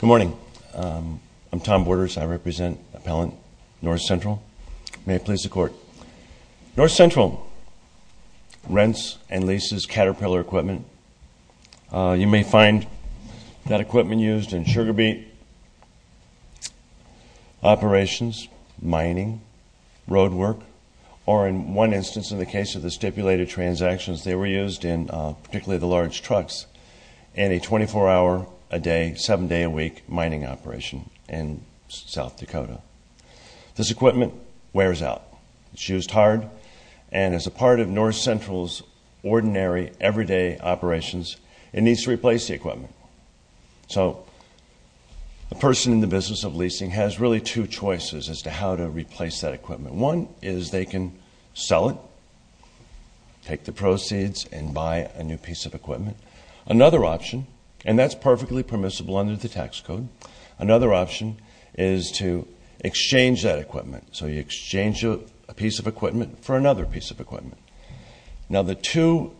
Good morning. I'm Tom Borders. I represent Appellant North Central. May it please the Court. North Central rents and leases Caterpillar equipment. You may find that equipment used in sugar beet operations, mining, road work, or in one instance, in the case of the stipulated transactions, they were used in particularly the large trucks in a 24-hour-a-day, 7-day-a-week mining operation in South Dakota. This equipment wears out. It's used hard, and as a part of A person in the business of leasing has really two choices as to how to replace that equipment. One is they can sell it, take the proceeds, and buy a new piece of equipment. Another option, and that's perfectly permissible under the tax code, another option is to exchange that equipment. So you exchange a piece of equipment for another piece of equipment. Now the two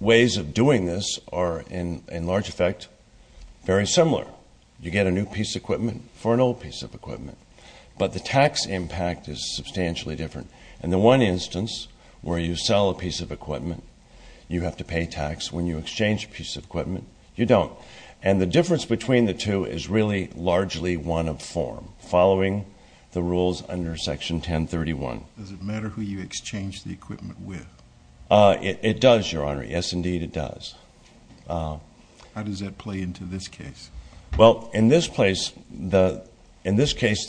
ways of doing this are, in large effect, very similar. You get a new piece of equipment for an old piece of equipment. But the tax impact is substantially different. In the one instance, where you sell a piece of equipment, you have to pay tax. When you exchange a piece of equipment, you don't. And the difference between the two is really largely one of form, following the rules under Section 1031. Does it matter who you exchange the equipment with? It does, Your Honor. Yes, indeed, it does. How does that play into this case? Well, in this case, the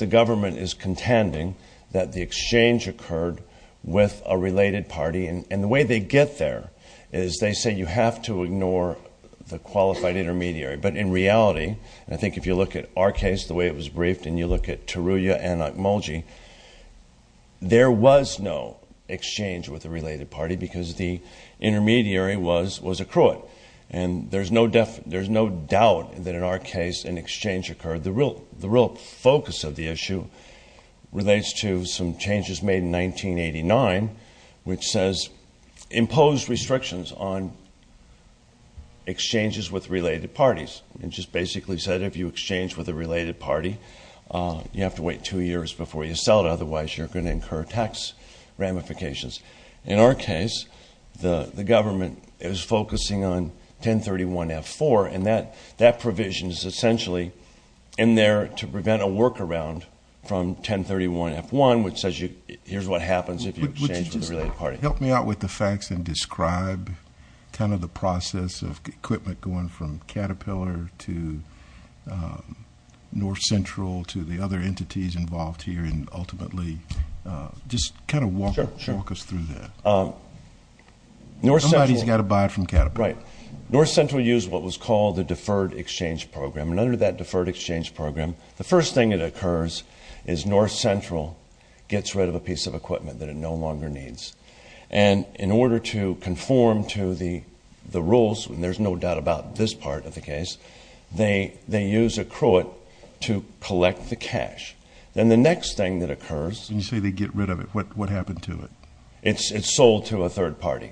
government is contending that the exchange occurred with a related party. And the way they get there is they say you have to ignore the qualified intermediary. But in reality, I think if you look at our case, the way it was briefed, and you look at Taruja and Akmolji, there was no exchange with a related party because the intermediary was a cruet. And there's no doubt that in our case an exchange occurred. The real focus of the issue relates to some changes made in 1989, which says impose restrictions on exchanges with related parties. It just basically said if you exchange with a related party, you have to wait two years before you sell it. Otherwise, you're going to incur tax ramifications. In our case, the government is focusing on 1031F4, and that provision is essentially in there to prevent a workaround from 1031F1, which says here's what happens if you exchange with a related party. Help me out with the facts and describe kind of the process of equipment going from Caterpillar to Northcentral to the other entities involved here and ultimately just kind of walk us through that. Sure. Somebody's got to buy it from Caterpillar. Right. Northcentral used what was called the Deferred Exchange Program. And under that Deferred Exchange Program, the first thing that occurs is Northcentral gets rid of a piece of equipment that it no longer needs. And in order to conform to the rules, and there's no doubt about this part of the case, they use Accruit to collect the cash. Then the next thing that occurs... When you say they get rid of it, what happened to it? It's sold to a third party,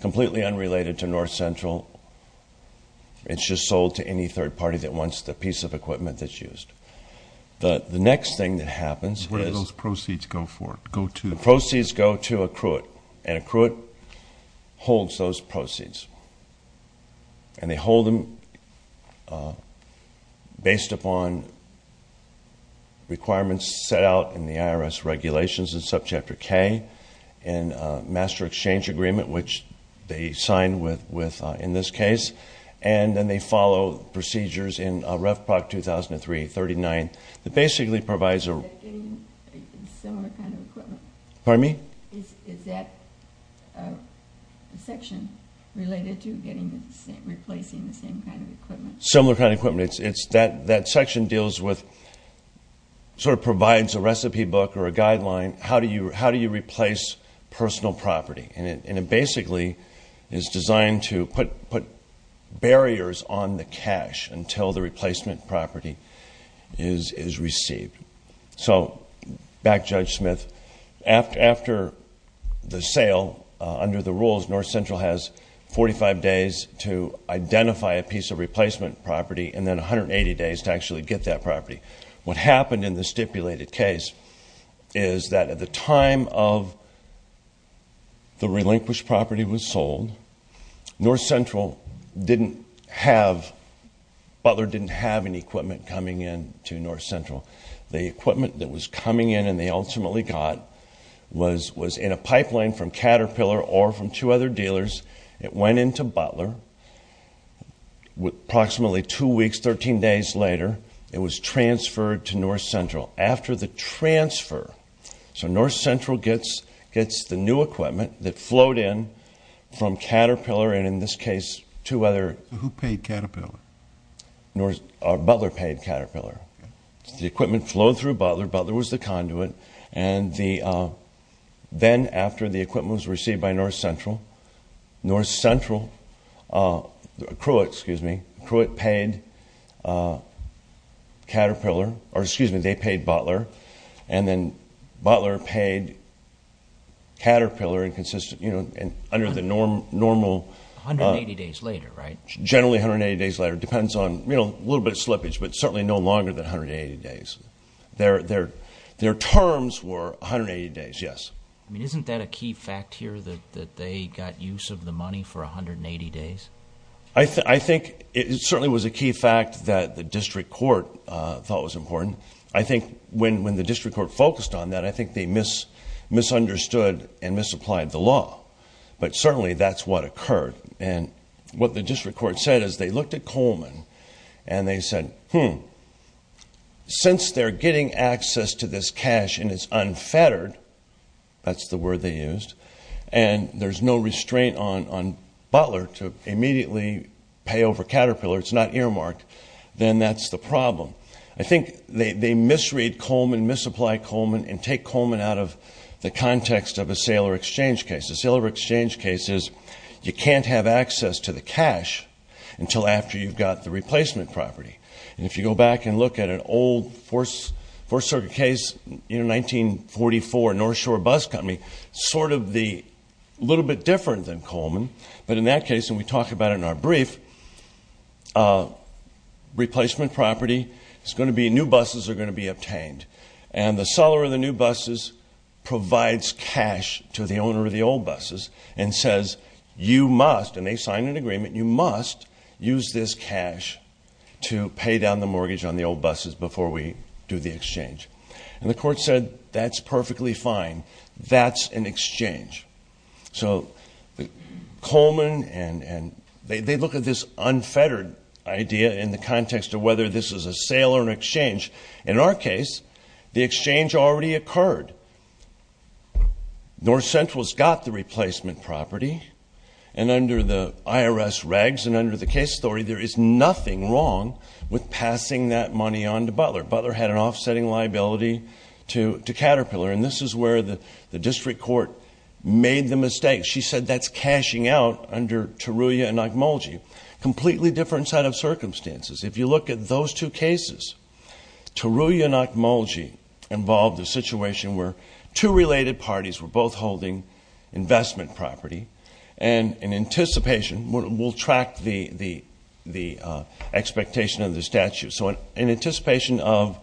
completely unrelated to Northcentral. It's just sold to any third party that wants the piece of equipment that's used. The next thing that happens is... Where do those proceeds go for it? Go to... And they hold them based upon requirements set out in the IRS regulations in Subchapter K and Master Exchange Agreement, which they sign with in this case. And then they follow procedures in Ref Proc 2003-39 that basically provides a... Is that getting similar kind of equipment? Pardon me? Is that a section related to replacing the same kind of equipment? Similar kind of equipment. That section deals with... Sort of provides a recipe book or a guideline. How do you replace personal property? And it basically is designed to put barriers on the cash until the replacement property is received. So back to Judge Smith. After the sale, under the rules, Northcentral has 45 days to identify a piece of replacement property and then 180 days to actually get that property. What happened in the stipulated case is that at the time of the relinquished property was Butler didn't have any equipment coming in to Northcentral. The equipment that was coming in and they ultimately got was in a pipeline from Caterpillar or from two other dealers. It went into Butler. Approximately two weeks, 13 days later, it was transferred to Northcentral. After the transfer... So Northcentral gets the new equipment that flowed in from Caterpillar and in this case two other... Who paid Caterpillar? Butler paid Caterpillar. The equipment flowed through Butler. Butler was the conduit. And then after the equipment was received by Northcentral, Northcentral... Krewet, excuse me. Krewet paid Caterpillar. Or excuse me, they paid Butler. And then Butler paid Caterpillar and under the normal... Generally 180 days later, depends on a little bit of slippage, but certainly no longer than 180 days. Their terms were 180 days, yes. Isn't that a key fact here that they got use of the money for 180 days? I think it certainly was a key fact that the district court thought was important. I think when the district court focused on that, I think they misunderstood and misapplied the law. But certainly that's what occurred. And what the district court said is they looked at Coleman and they said, hmm, since they're getting access to this cash and it's unfettered, that's the word they used, and there's no restraint on Butler to immediately pay over Caterpillar, it's not earmarked, then that's the problem. I think they misread Coleman, misapplied Coleman, and take Coleman out of the context of a sale or exchange case. A sale or exchange case is you can't have access to the cash until after you've got the replacement property. And if you go back and look at an old Fourth Circuit case in 1944, North Shore Bus Company, sort of a little bit different than Coleman, but in that case, and we talk about it in our brief, replacement property is going to be new buses are going to be obtained, and the seller of the new buses provides cash to the owner of the old buses and says, you must, and they sign an agreement, you must use this cash to pay down the mortgage on the old buses before we do the exchange. And the court said, that's perfectly fine. That's an exchange. So Coleman and they look at this unfettered idea in the context of whether this is a sale or an exchange. In our case, the exchange already occurred. North Central's got the replacement property, and under the IRS regs and under the case story, there is nothing wrong with passing that money on to Butler. Butler had an offsetting liability to Caterpillar, and this is where the district court made the mistake. She said that's cashing out under Tarulla and Ogmulgee. Completely different set of circumstances. If you look at those two cases, Tarulla and Ogmulgee involved a situation where two related parties were both holding investment property, and in anticipation, we'll track the expectation of the statute. So in anticipation of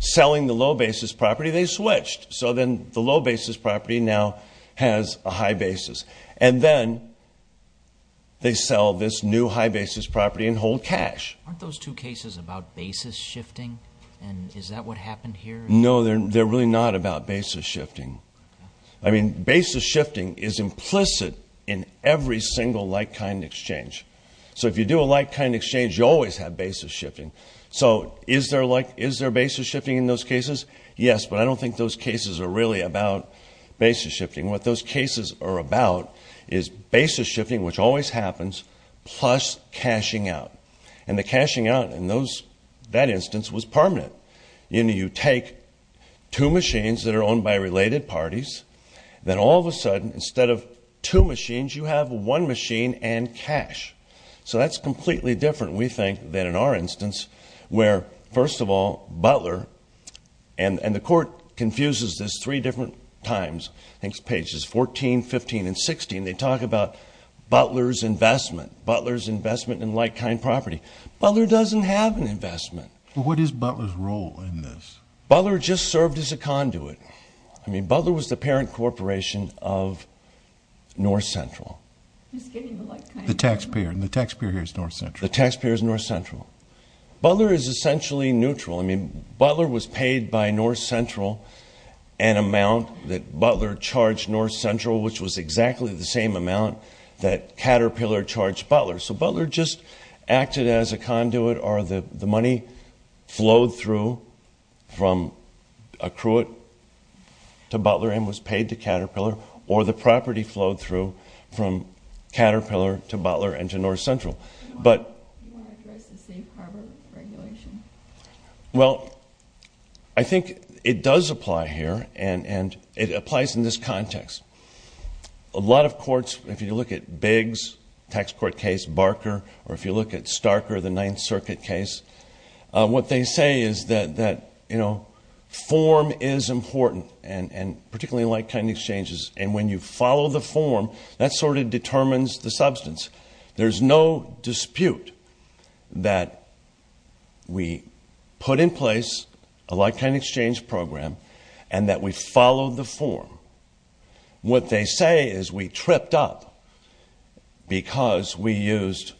selling the low basis property, they switched. So then the low basis property now has a high basis. And then they sell this new high basis property and hold cash. Aren't those two cases about basis shifting, and is that what happened here? No, they're really not about basis shifting. I mean, basis shifting is implicit in every single like-kind exchange. So if you do a like-kind exchange, you always have basis shifting. So is there basis shifting in those cases? Yes, but I don't think those cases are really about basis shifting. What those cases are about is basis shifting, which always happens, plus cashing out. And the cashing out in that instance was permanent. You know, you take two machines that are owned by related parties. Then all of a sudden, instead of two machines, you have one machine and cash. So that's completely different, we think, than in our instance where, first of all, Butler, and the Court confuses this three different times, I think it's pages 14, 15, and 16. They talk about Butler's investment, Butler's investment in like-kind property. Butler doesn't have an investment. What is Butler's role in this? Butler just served as a conduit. I mean, Butler was the parent corporation of North Central. The taxpayer, and the taxpayer here is North Central. The taxpayer is North Central. Butler is essentially neutral. I mean, Butler was paid by North Central an amount that Butler charged North Central, which was exactly the same amount that Caterpillar charged Butler. So Butler just acted as a conduit, or the money flowed through from a cruite to Butler and was paid to Caterpillar, or the property flowed through from Caterpillar to Butler and to North Central. Do you want to address the safe harbor regulation? Well, I think it does apply here, and it applies in this context. A lot of courts, if you look at Biggs' tax court case, Barker, or if you look at Starker, the Ninth Circuit case, what they say is that form is important, and particularly in like-kind exchanges, and when you follow the form, that sort of determines the substance. There's no dispute that we put in place a like-kind exchange program and that we followed the form. What they say is we tripped up because we used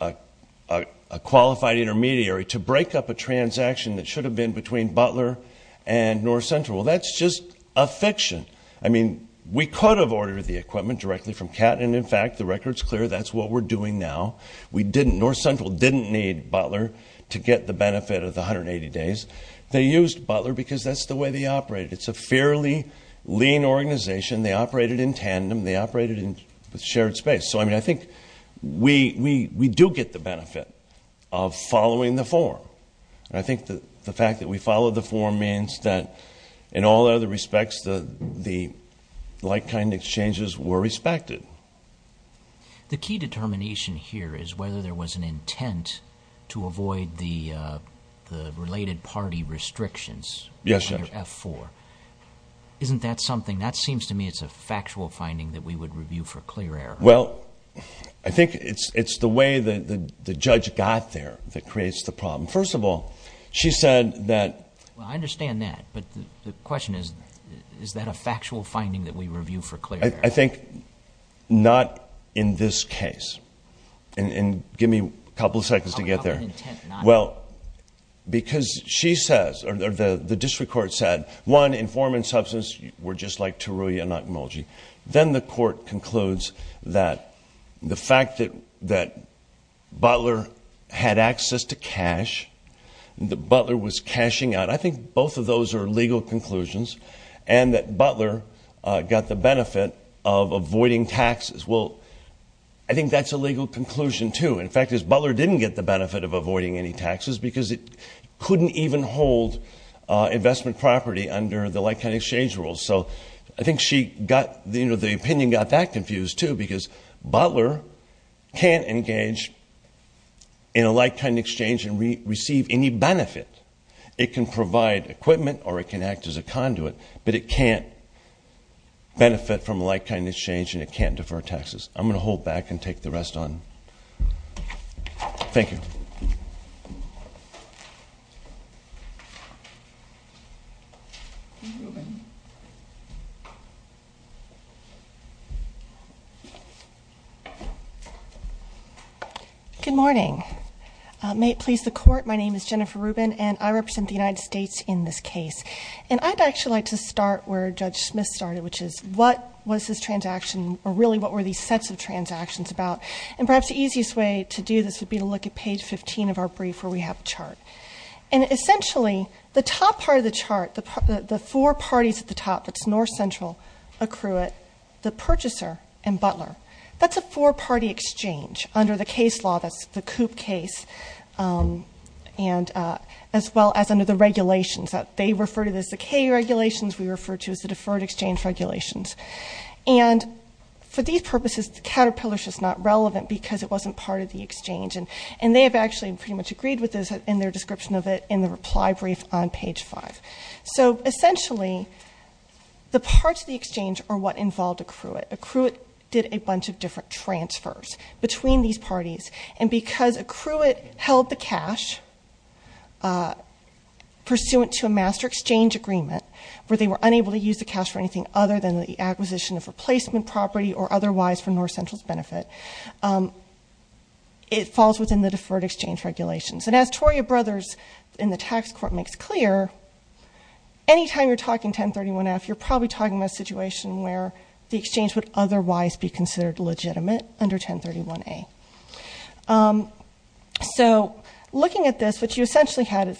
a qualified intermediary to break up a transaction that should have been between Butler and North Central. Well, that's just a fiction. I mean, we could have ordered the equipment directly from Cat, and, in fact, the record's clear that's what we're doing now. North Central didn't need Butler to get the benefit of the 180 days. They used Butler because that's the way they operated. It's a fairly lean organization. They operated in tandem. They operated in shared space. So, I mean, I think we do get the benefit of following the form, and I think the fact that we followed the form means that, in all other respects, the like-kind exchanges were respected. The key determination here is whether there was an intent to avoid the related party restrictions under F-4. Yes, Judge. Isn't that something? That seems to me it's a factual finding that we would review for clear error. Well, I think it's the way that the judge got there that creates the problem. First of all, she said that... Well, I understand that, but the question is, is that a factual finding that we review for clear error? I think not in this case. And give me a couple of seconds to get there. How about an intent not... Well, because she says, or the district court said, one, informant and substance were just like Tarulli and Okunology. Then the court concludes that the fact that Butler had access to cash, that Butler was cashing out, I think both of those are legal conclusions, and that Butler got the benefit of avoiding taxes. Well, I think that's a legal conclusion, too. And the fact is, Butler didn't get the benefit of avoiding any taxes because it couldn't even hold investment property under the like-kind exchange rules. So I think the opinion got that confused, too, because Butler can't engage in a like-kind exchange and receive any benefit. It can provide equipment or it can act as a conduit, but it can't benefit from a like-kind exchange and it can't defer taxes. I'm going to hold back and take the rest on. Thank you. Good morning. May it please the Court, my name is Jennifer Rubin, and I represent the United States in this case. And I'd actually like to start where Judge Smith started, which is what was this transaction, or really what were these sets of transactions about? And perhaps the easiest way to do this would be to look at page 15 of our brief where we have a chart. And essentially, the top part of the chart, the four parties at the top, that's North Central, accrue it, the purchaser, and Butler. That's a four-party exchange under the case law, that's the Coop case, as well as under the regulations that they refer to as the K regulations, we refer to as the deferred exchange regulations. And for these purposes, the Caterpillars is not relevant because it wasn't part of the exchange, and they have actually pretty much agreed with this in their description of it in the reply brief on page 5. So essentially, the parts of the exchange are what involved accrue it. Accrue it did a bunch of different transfers between these parties, and because accrue it held the cash pursuant to a master exchange agreement, where they were unable to use the cash for anything other than the acquisition of replacement property or otherwise for North Central's benefit, it falls within the deferred exchange regulations. And as Toria Brothers in the tax court makes clear, anytime you're talking 1031-F, you're probably talking about a situation where the exchange would otherwise be considered legitimate under 1031-A. So looking at this, what you essentially had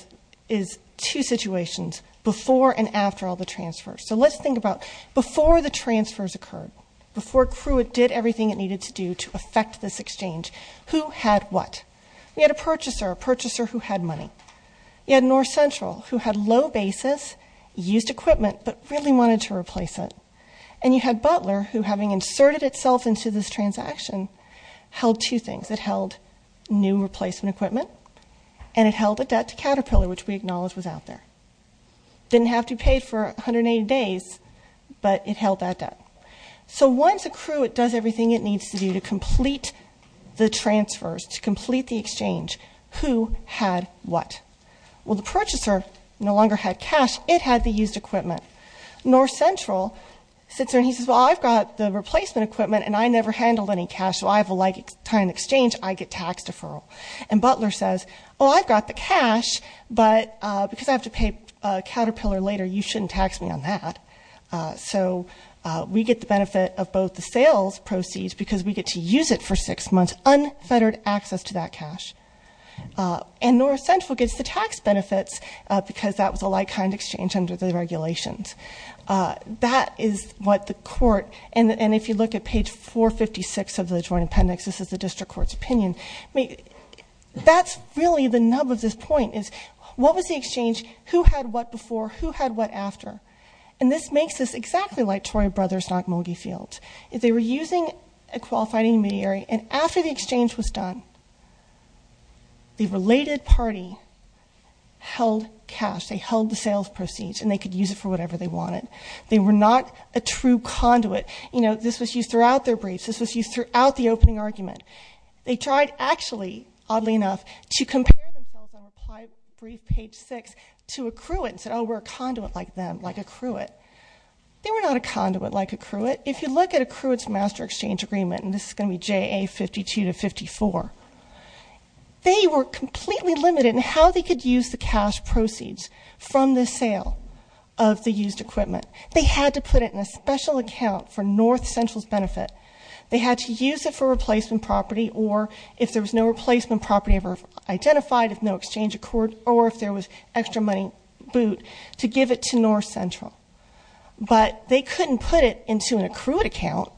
is two situations, before and after all the transfers. So let's think about before the transfers occurred, before accrue it did everything it needed to do to affect this exchange, who had what? You had a purchaser, a purchaser who had money. You had North Central, who had low basis, used equipment, but really wanted to replace it. And you had Butler, who having inserted itself into this transaction, held two things. It held new replacement equipment, and it held a debt to Caterpillar, which we acknowledge was out there. Didn't have to be paid for 180 days, but it held that debt. So once accrue it does everything it needs to do to complete the transfers, to complete the exchange, who had what? Well, the purchaser no longer had cash. It had the used equipment. North Central sits there and he says, well, I've got the replacement equipment, and I never handled any cash. So I have a lifetime exchange, I get tax deferral. And Butler says, well, I've got the cash, but because I have to pay Caterpillar later, you shouldn't tax me on that. So we get the benefit of both the sales proceeds, because we get to use it for six months, unfettered access to that cash. And North Central gets the tax benefits, because that was a like-kind exchange under the regulations. That is what the court, and if you look at page 456 of the joint appendix, this is the district court's opinion. I mean, that's really the nub of this point, is what was the exchange? Who had what before? Who had what after? And this makes this exactly like Troy Brothers' Nagamogi Field. They were using a qualified intermediary, and after the exchange was done, the related party held cash. They held the sales proceeds, and they could use it for whatever they wanted. They were not a true conduit. You know, this was used throughout their briefs. This was used throughout the opening argument. They tried, actually, oddly enough, to compare themselves on reply brief page six to a cruet and said, oh, we're a conduit like them, like a cruet. They were not a conduit like a cruet. But if you look at a cruet's master exchange agreement, and this is going to be JA 52 to 54, they were completely limited in how they could use the cash proceeds from the sale of the used equipment. They had to put it in a special account for North Central's benefit. They had to use it for replacement property, or if there was no replacement property ever identified, if no exchange occurred, or if there was extra money booed, to give it to North Central. But they couldn't put it into an accrued account.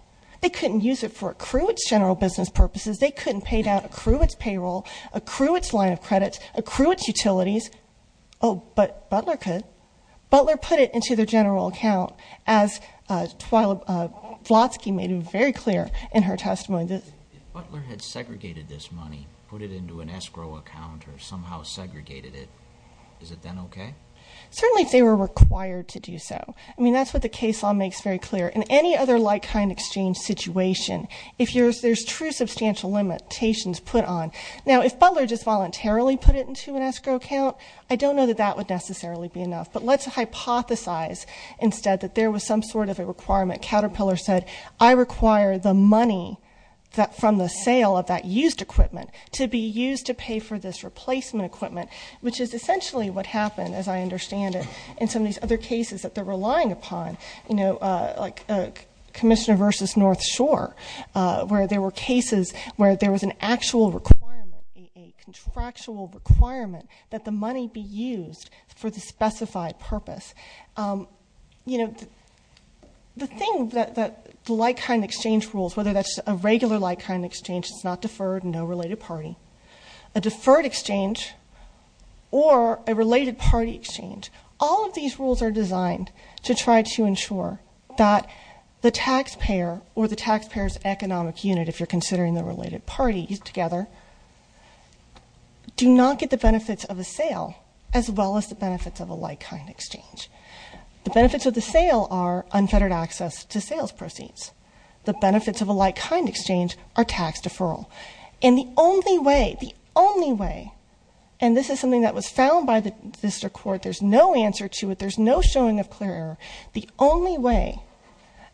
They couldn't use it for accrued general business purposes. They couldn't pay down accrued payroll, accrue its line of credits, accrue its utilities. Oh, but Butler could. Butler put it into their general account, as Vlotsky made it very clear in her testimony. If Butler had segregated this money, put it into an escrow account, or somehow segregated it, is it then okay? Certainly if they were required to do so. I mean, that's what the case law makes very clear. In any other like-kind exchange situation, if there's true substantial limitations put on. Now, if Butler just voluntarily put it into an escrow account, I don't know that that would necessarily be enough. But let's hypothesize instead that there was some sort of a requirement. Caterpillar said, I require the money from the sale of that used equipment to be used to pay for this replacement equipment, which is essentially what happened, as I understand it, in some of these other cases that they're relying upon. You know, like Commissioner versus North Shore, where there were cases where there was an actual requirement, a contractual requirement that the money be used for the specified purpose. You know, the thing that the like-kind exchange rules, whether that's a regular like-kind exchange, it's not deferred, no related party. A deferred exchange or a related party exchange, all of these rules are designed to try to ensure that the taxpayer or the taxpayer's economic unit, if you're considering the related parties together, do not get the benefits of a sale, as well as the benefits of a like-kind exchange. The benefits of the sale are unfettered access to sales proceeds. The benefits of a like-kind exchange are tax deferral. And the only way, the only way, and this is something that was found by the district court. There's no answer to it. There's no showing of clear error. The only way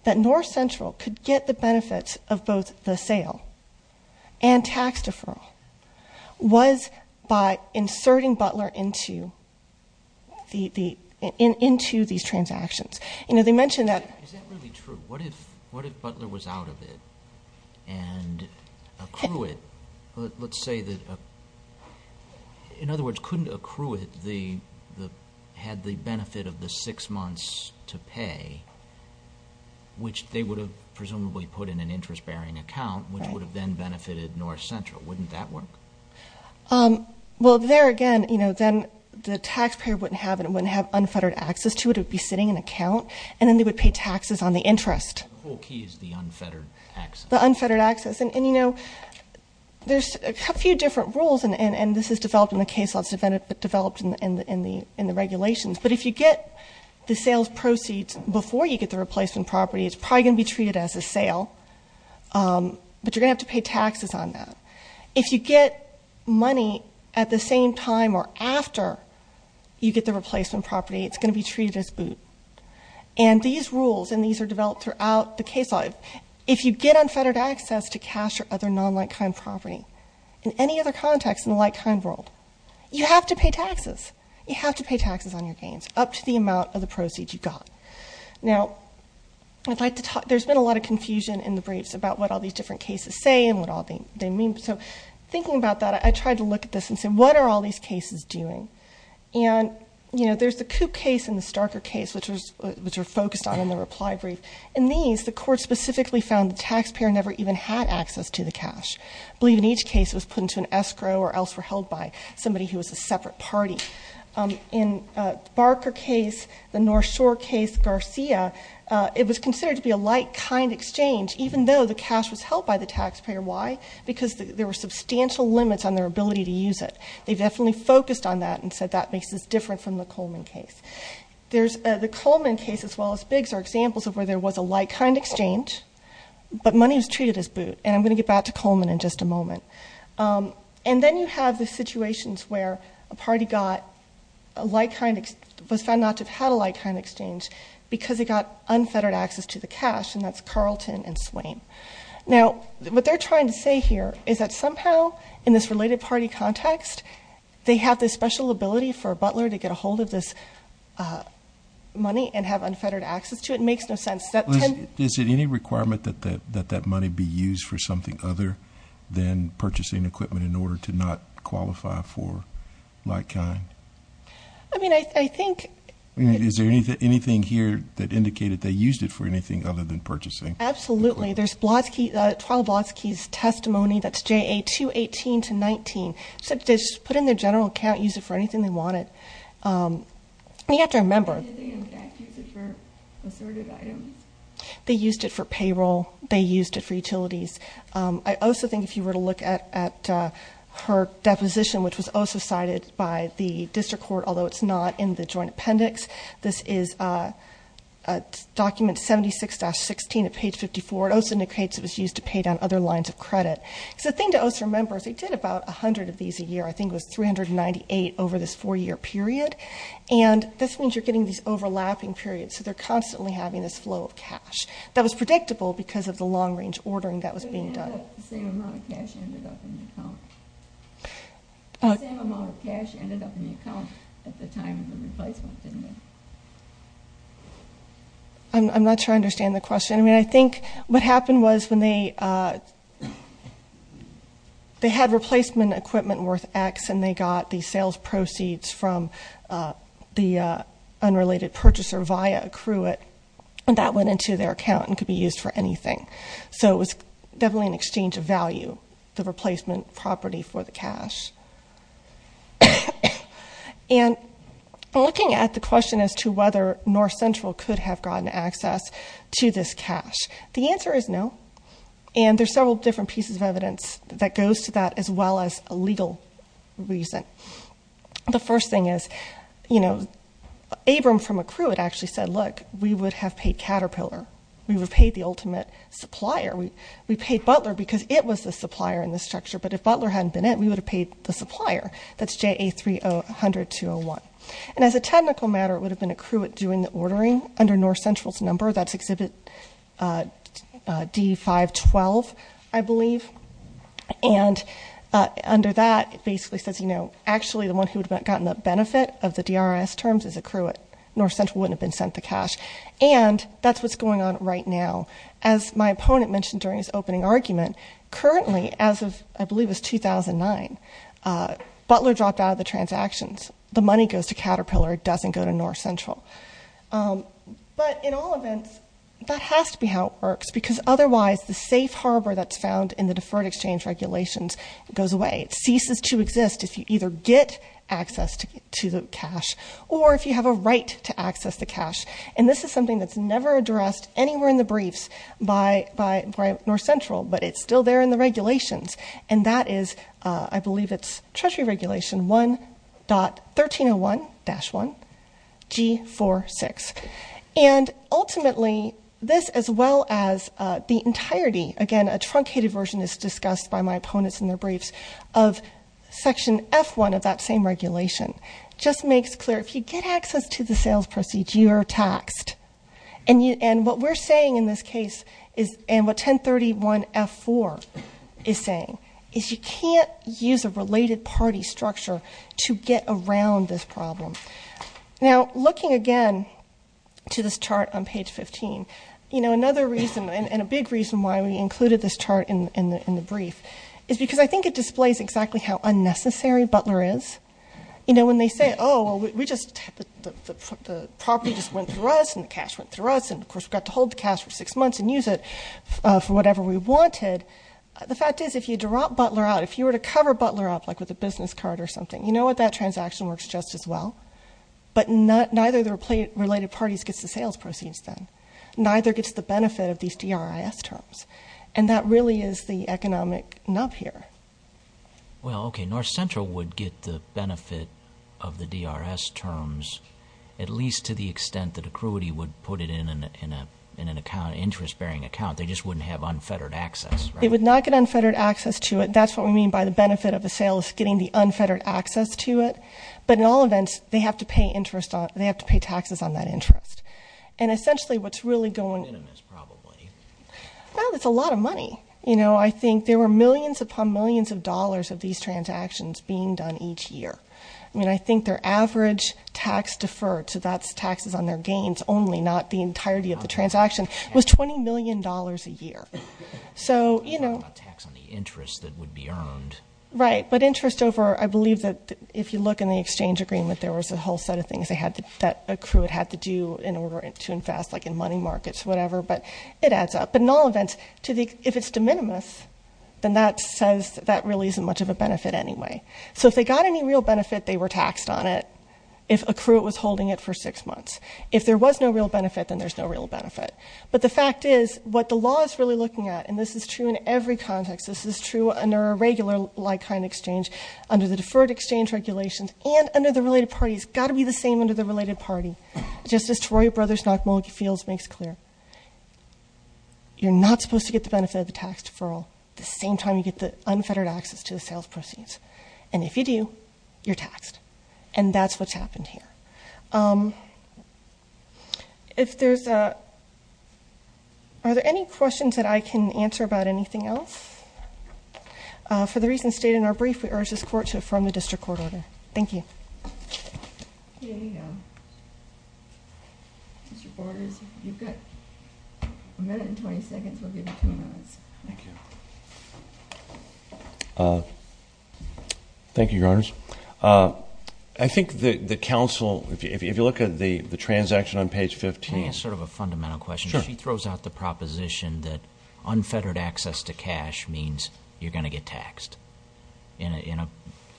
that North Central could get the benefits of both the sale and tax deferral was by inserting Butler into these transactions. You know, they mentioned that- Accrue it. Let's say that, in other words, couldn't accrue it the, had the benefit of the six months to pay, which they would have presumably put in an interest-bearing account, which would have then benefited North Central. Wouldn't that work? Well, there again, you know, then the taxpayer wouldn't have unfettered access to it. It would be sitting in an account, and then they would pay taxes on the interest. The whole key is the unfettered access. The unfettered access. And, you know, there's a few different rules, and this is developed in the case law. It's developed in the regulations. But if you get the sales proceeds before you get the replacement property, it's probably going to be treated as a sale. But you're going to have to pay taxes on that. If you get money at the same time or after you get the replacement property, it's going to be treated as boot. And these rules, and these are developed throughout the case law. But if you get unfettered access to cash or other non-like-kind property in any other context in the like-kind world, you have to pay taxes. You have to pay taxes on your gains up to the amount of the proceeds you got. Now, there's been a lot of confusion in the briefs about what all these different cases say and what all they mean. So thinking about that, I tried to look at this and say, what are all these cases doing? And, you know, there's the Coop case and the Starker case, which are focused on in the reply brief. In these, the court specifically found the taxpayer never even had access to the cash. I believe in each case it was put into an escrow or else were held by somebody who was a separate party. In the Barker case, the North Shore case, Garcia, it was considered to be a like-kind exchange, even though the cash was held by the taxpayer. Why? Because there were substantial limits on their ability to use it. They definitely focused on that and said that makes this different from the Coleman case. The Coleman case, as well as Biggs, are examples of where there was a like-kind exchange, but money was treated as boot. And I'm going to get back to Coleman in just a moment. And then you have the situations where a party got a like-kind, was found not to have had a like-kind exchange because they got unfettered access to the cash, and that's Carlton and Swain. Now, what they're trying to say here is that somehow in this related party context, they have this special ability for a butler to get a hold of this money and have unfettered access to it. It makes no sense. Is it any requirement that that money be used for something other than purchasing equipment in order to not qualify for like-kind? I mean, I think. Is there anything here that indicated they used it for anything other than purchasing? Absolutely. There's trial Blodsky's testimony, that's JA 218-19. They put in their general account, used it for anything they wanted. You have to remember. Did they in fact use it for assorted items? They used it for payroll. They used it for utilities. I also think if you were to look at her deposition, which was also cited by the district court, although it's not in the joint appendix, this is document 76-16 at page 54. It also indicates it was used to pay down other lines of credit. The thing to also remember is they did about 100 of these a year. I think it was 398 over this four-year period. And this means you're getting these overlapping periods, so they're constantly having this flow of cash. That was predictable because of the long-range ordering that was being done. The same amount of cash ended up in the account at the time of the replacement, didn't it? I'm not sure I understand the question. I mean, I think what happened was when they had replacement equipment worth X and they got the sales proceeds from the unrelated purchaser via accruant, that went into their account and could be used for anything. So it was definitely an exchange of value, the replacement property for the cash. And looking at the question as to whether North Central could have gotten access to this cash, the answer is no. And there's several different pieces of evidence that goes to that as well as a legal reason. The first thing is, you know, Abram from Accruit actually said, look, we would have paid Caterpillar. We would have paid the ultimate supplier. We paid Butler because it was the supplier in this structure. But if Butler hadn't been it, we would have paid the supplier. That's JA300201. And as a technical matter, it would have been Accruit doing the ordering under North Central's number. That's Exhibit D512, I believe. And under that, it basically says, you know, actually the one who would have gotten the benefit of the DRS terms is Accruit. North Central wouldn't have been sent the cash. And that's what's going on right now. As my opponent mentioned during his opening argument, currently, as of I believe it was 2009, Butler dropped out of the transactions. The money goes to Caterpillar. It doesn't go to North Central. But in all events, that has to be how it works because otherwise the safe harbor that's found in the deferred exchange regulations goes away. It ceases to exist if you either get access to the cash or if you have a right to access the cash. And this is something that's never addressed anywhere in the briefs by North Central, but it's still there in the regulations. And that is, I believe it's Treasury Regulation 1.1301-1G46. And ultimately, this as well as the entirety, again, a truncated version as discussed by my opponents in their briefs, of Section F1 of that same regulation just makes clear if you get access to the sales proceeds, you are taxed. And what we're saying in this case is, and what 1031-F4 is saying, is you can't use a related party structure to get around this problem. Now, looking again to this chart on page 15, another reason, and a big reason why we included this chart in the brief is because I think it displays exactly how unnecessary Butler is. When they say, oh, the property just went through us and the cash went through us, and of course we got to hold the cash for six months and use it for whatever we wanted. The fact is, if you drop Butler out, if you were to cover Butler up, like with a business card or something, you know what, that transaction works just as well. But neither of the related parties gets the sales proceeds then. Neither gets the benefit of these DRIS terms. And that really is the economic nub here. Well, okay, North Central would get the benefit of the DRS terms, at least to the extent that accruity would put it in an interest-bearing account. They just wouldn't have unfettered access, right? They would not get unfettered access to it. That's what we mean by the benefit of the sales getting the unfettered access to it. But in all events, they have to pay taxes on that interest. And essentially what's really going- Minimum is probably. No, it's a lot of money. You know, I think there were millions upon millions of dollars of these transactions being done each year. I mean, I think their average tax deferred, so that's taxes on their gains only, not the entirety of the transaction, was $20 million a year. So, you know- Not tax on the interest that would be earned. Right, but interest over, I believe that if you look in the exchange agreement, there was a whole set of things that accruant had to do in order to invest, like in money markets, whatever. But it adds up. But in all events, if it's de minimis, then that says that really isn't much of a benefit anyway. So if they got any real benefit, they were taxed on it. If accruant was holding it for six months. If there was no real benefit, then there's no real benefit. But the fact is, what the law is really looking at, and this is true in every context, this is true under a regular like-kind exchange, under the deferred exchange regulations, and under the related parties. It's got to be the same under the related party. Just as Troy Brothers-Knock-Mulkey-Fields makes clear, you're not supposed to get the benefit of the tax deferral the same time you get the unfettered access to the sales proceeds. And if you do, you're taxed. And that's what's happened here. Are there any questions that I can answer about anything else? For the reasons stated in our brief, we urge this Court to affirm the district court order. Thank you. Thank you, Your Honors. I think the counsel, if you look at the transaction on page 15. Can I ask sort of a fundamental question? Sure. She throws out the proposition that unfettered access to cash means you're going to get taxed in a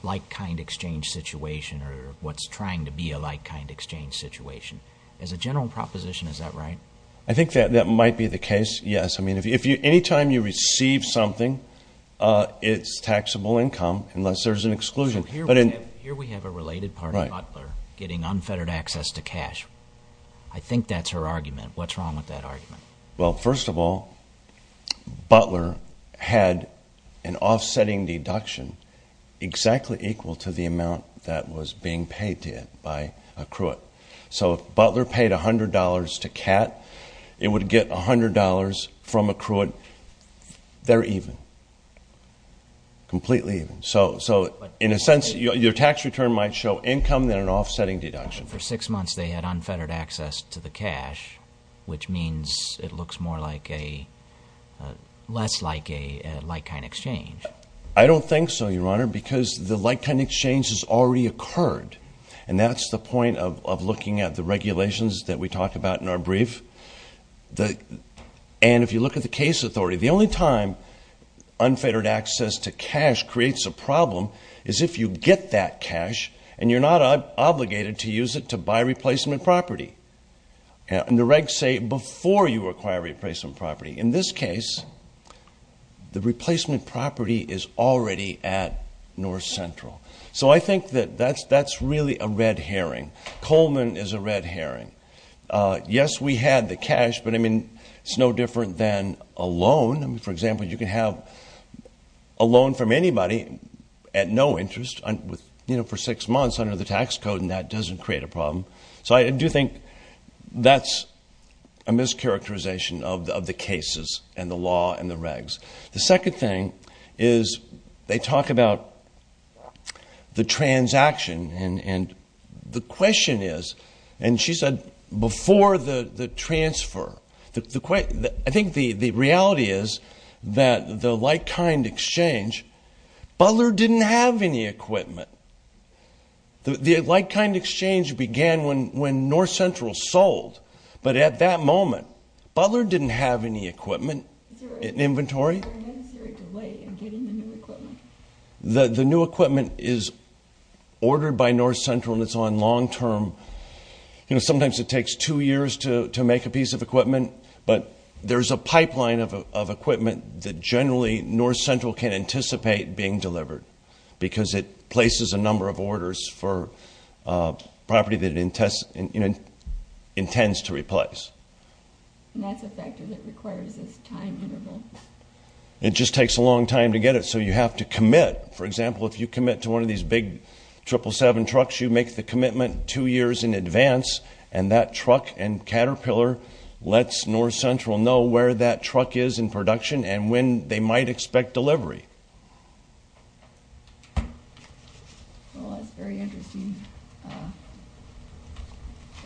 like-kind exchange situation or what's trying to be a like-kind exchange situation. As a general proposition, is that right? I think that might be the case, yes. I mean, any time you receive something, it's taxable income unless there's an exclusion. Here we have a related party, Butler, getting unfettered access to cash. I think that's her argument. What's wrong with that argument? Well, first of all, Butler had an offsetting deduction exactly equal to the amount that was being paid to it by a cruite. So if Butler paid $100 to Cat, it would get $100 from a cruite. They're even, completely even. So in a sense, your tax return might show income than an offsetting deduction. For six months, they had unfettered access to the cash, which means it looks more like a less like a like-kind exchange. I don't think so, Your Honor, because the like-kind exchange has already occurred, and that's the point of looking at the regulations that we talk about in our brief. And if you look at the case authority, the only time unfettered access to cash creates a problem is if you get that cash and you're not obligated to use it to buy replacement property. And the regs say before you acquire replacement property. In this case, the replacement property is already at North Central. So I think that that's really a red herring. Coleman is a red herring. Yes, we had the cash, but, I mean, it's no different than a loan. For example, you can have a loan from anybody at no interest for six months under the tax code, and that doesn't create a problem. So I do think that's a mischaracterization of the cases and the law and the regs. The second thing is they talk about the transaction. And the question is, and she said before the transfer. I think the reality is that the like-kind exchange, Butler didn't have any equipment. The like-kind exchange began when North Central sold. But at that moment, Butler didn't have any equipment in inventory. Is there a necessary delay in getting the new equipment? The new equipment is ordered by North Central, and it's on long-term. You know, sometimes it takes two years to make a piece of equipment. But there's a pipeline of equipment that generally North Central can anticipate being delivered, because it places a number of orders for property that it intends to replace. And that's a factor that requires this time interval. It just takes a long time to get it, so you have to commit. For example, if you commit to one of these big 777 trucks, you make the commitment two years in advance, and that truck and Caterpillar lets North Central know where that truck is in production and when they might expect delivery. Well, that's a very interesting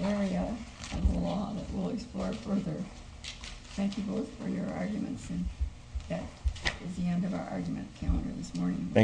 area of the law that we'll explore further. Thank you both for your arguments, and that is the end of our argument calendar this morning.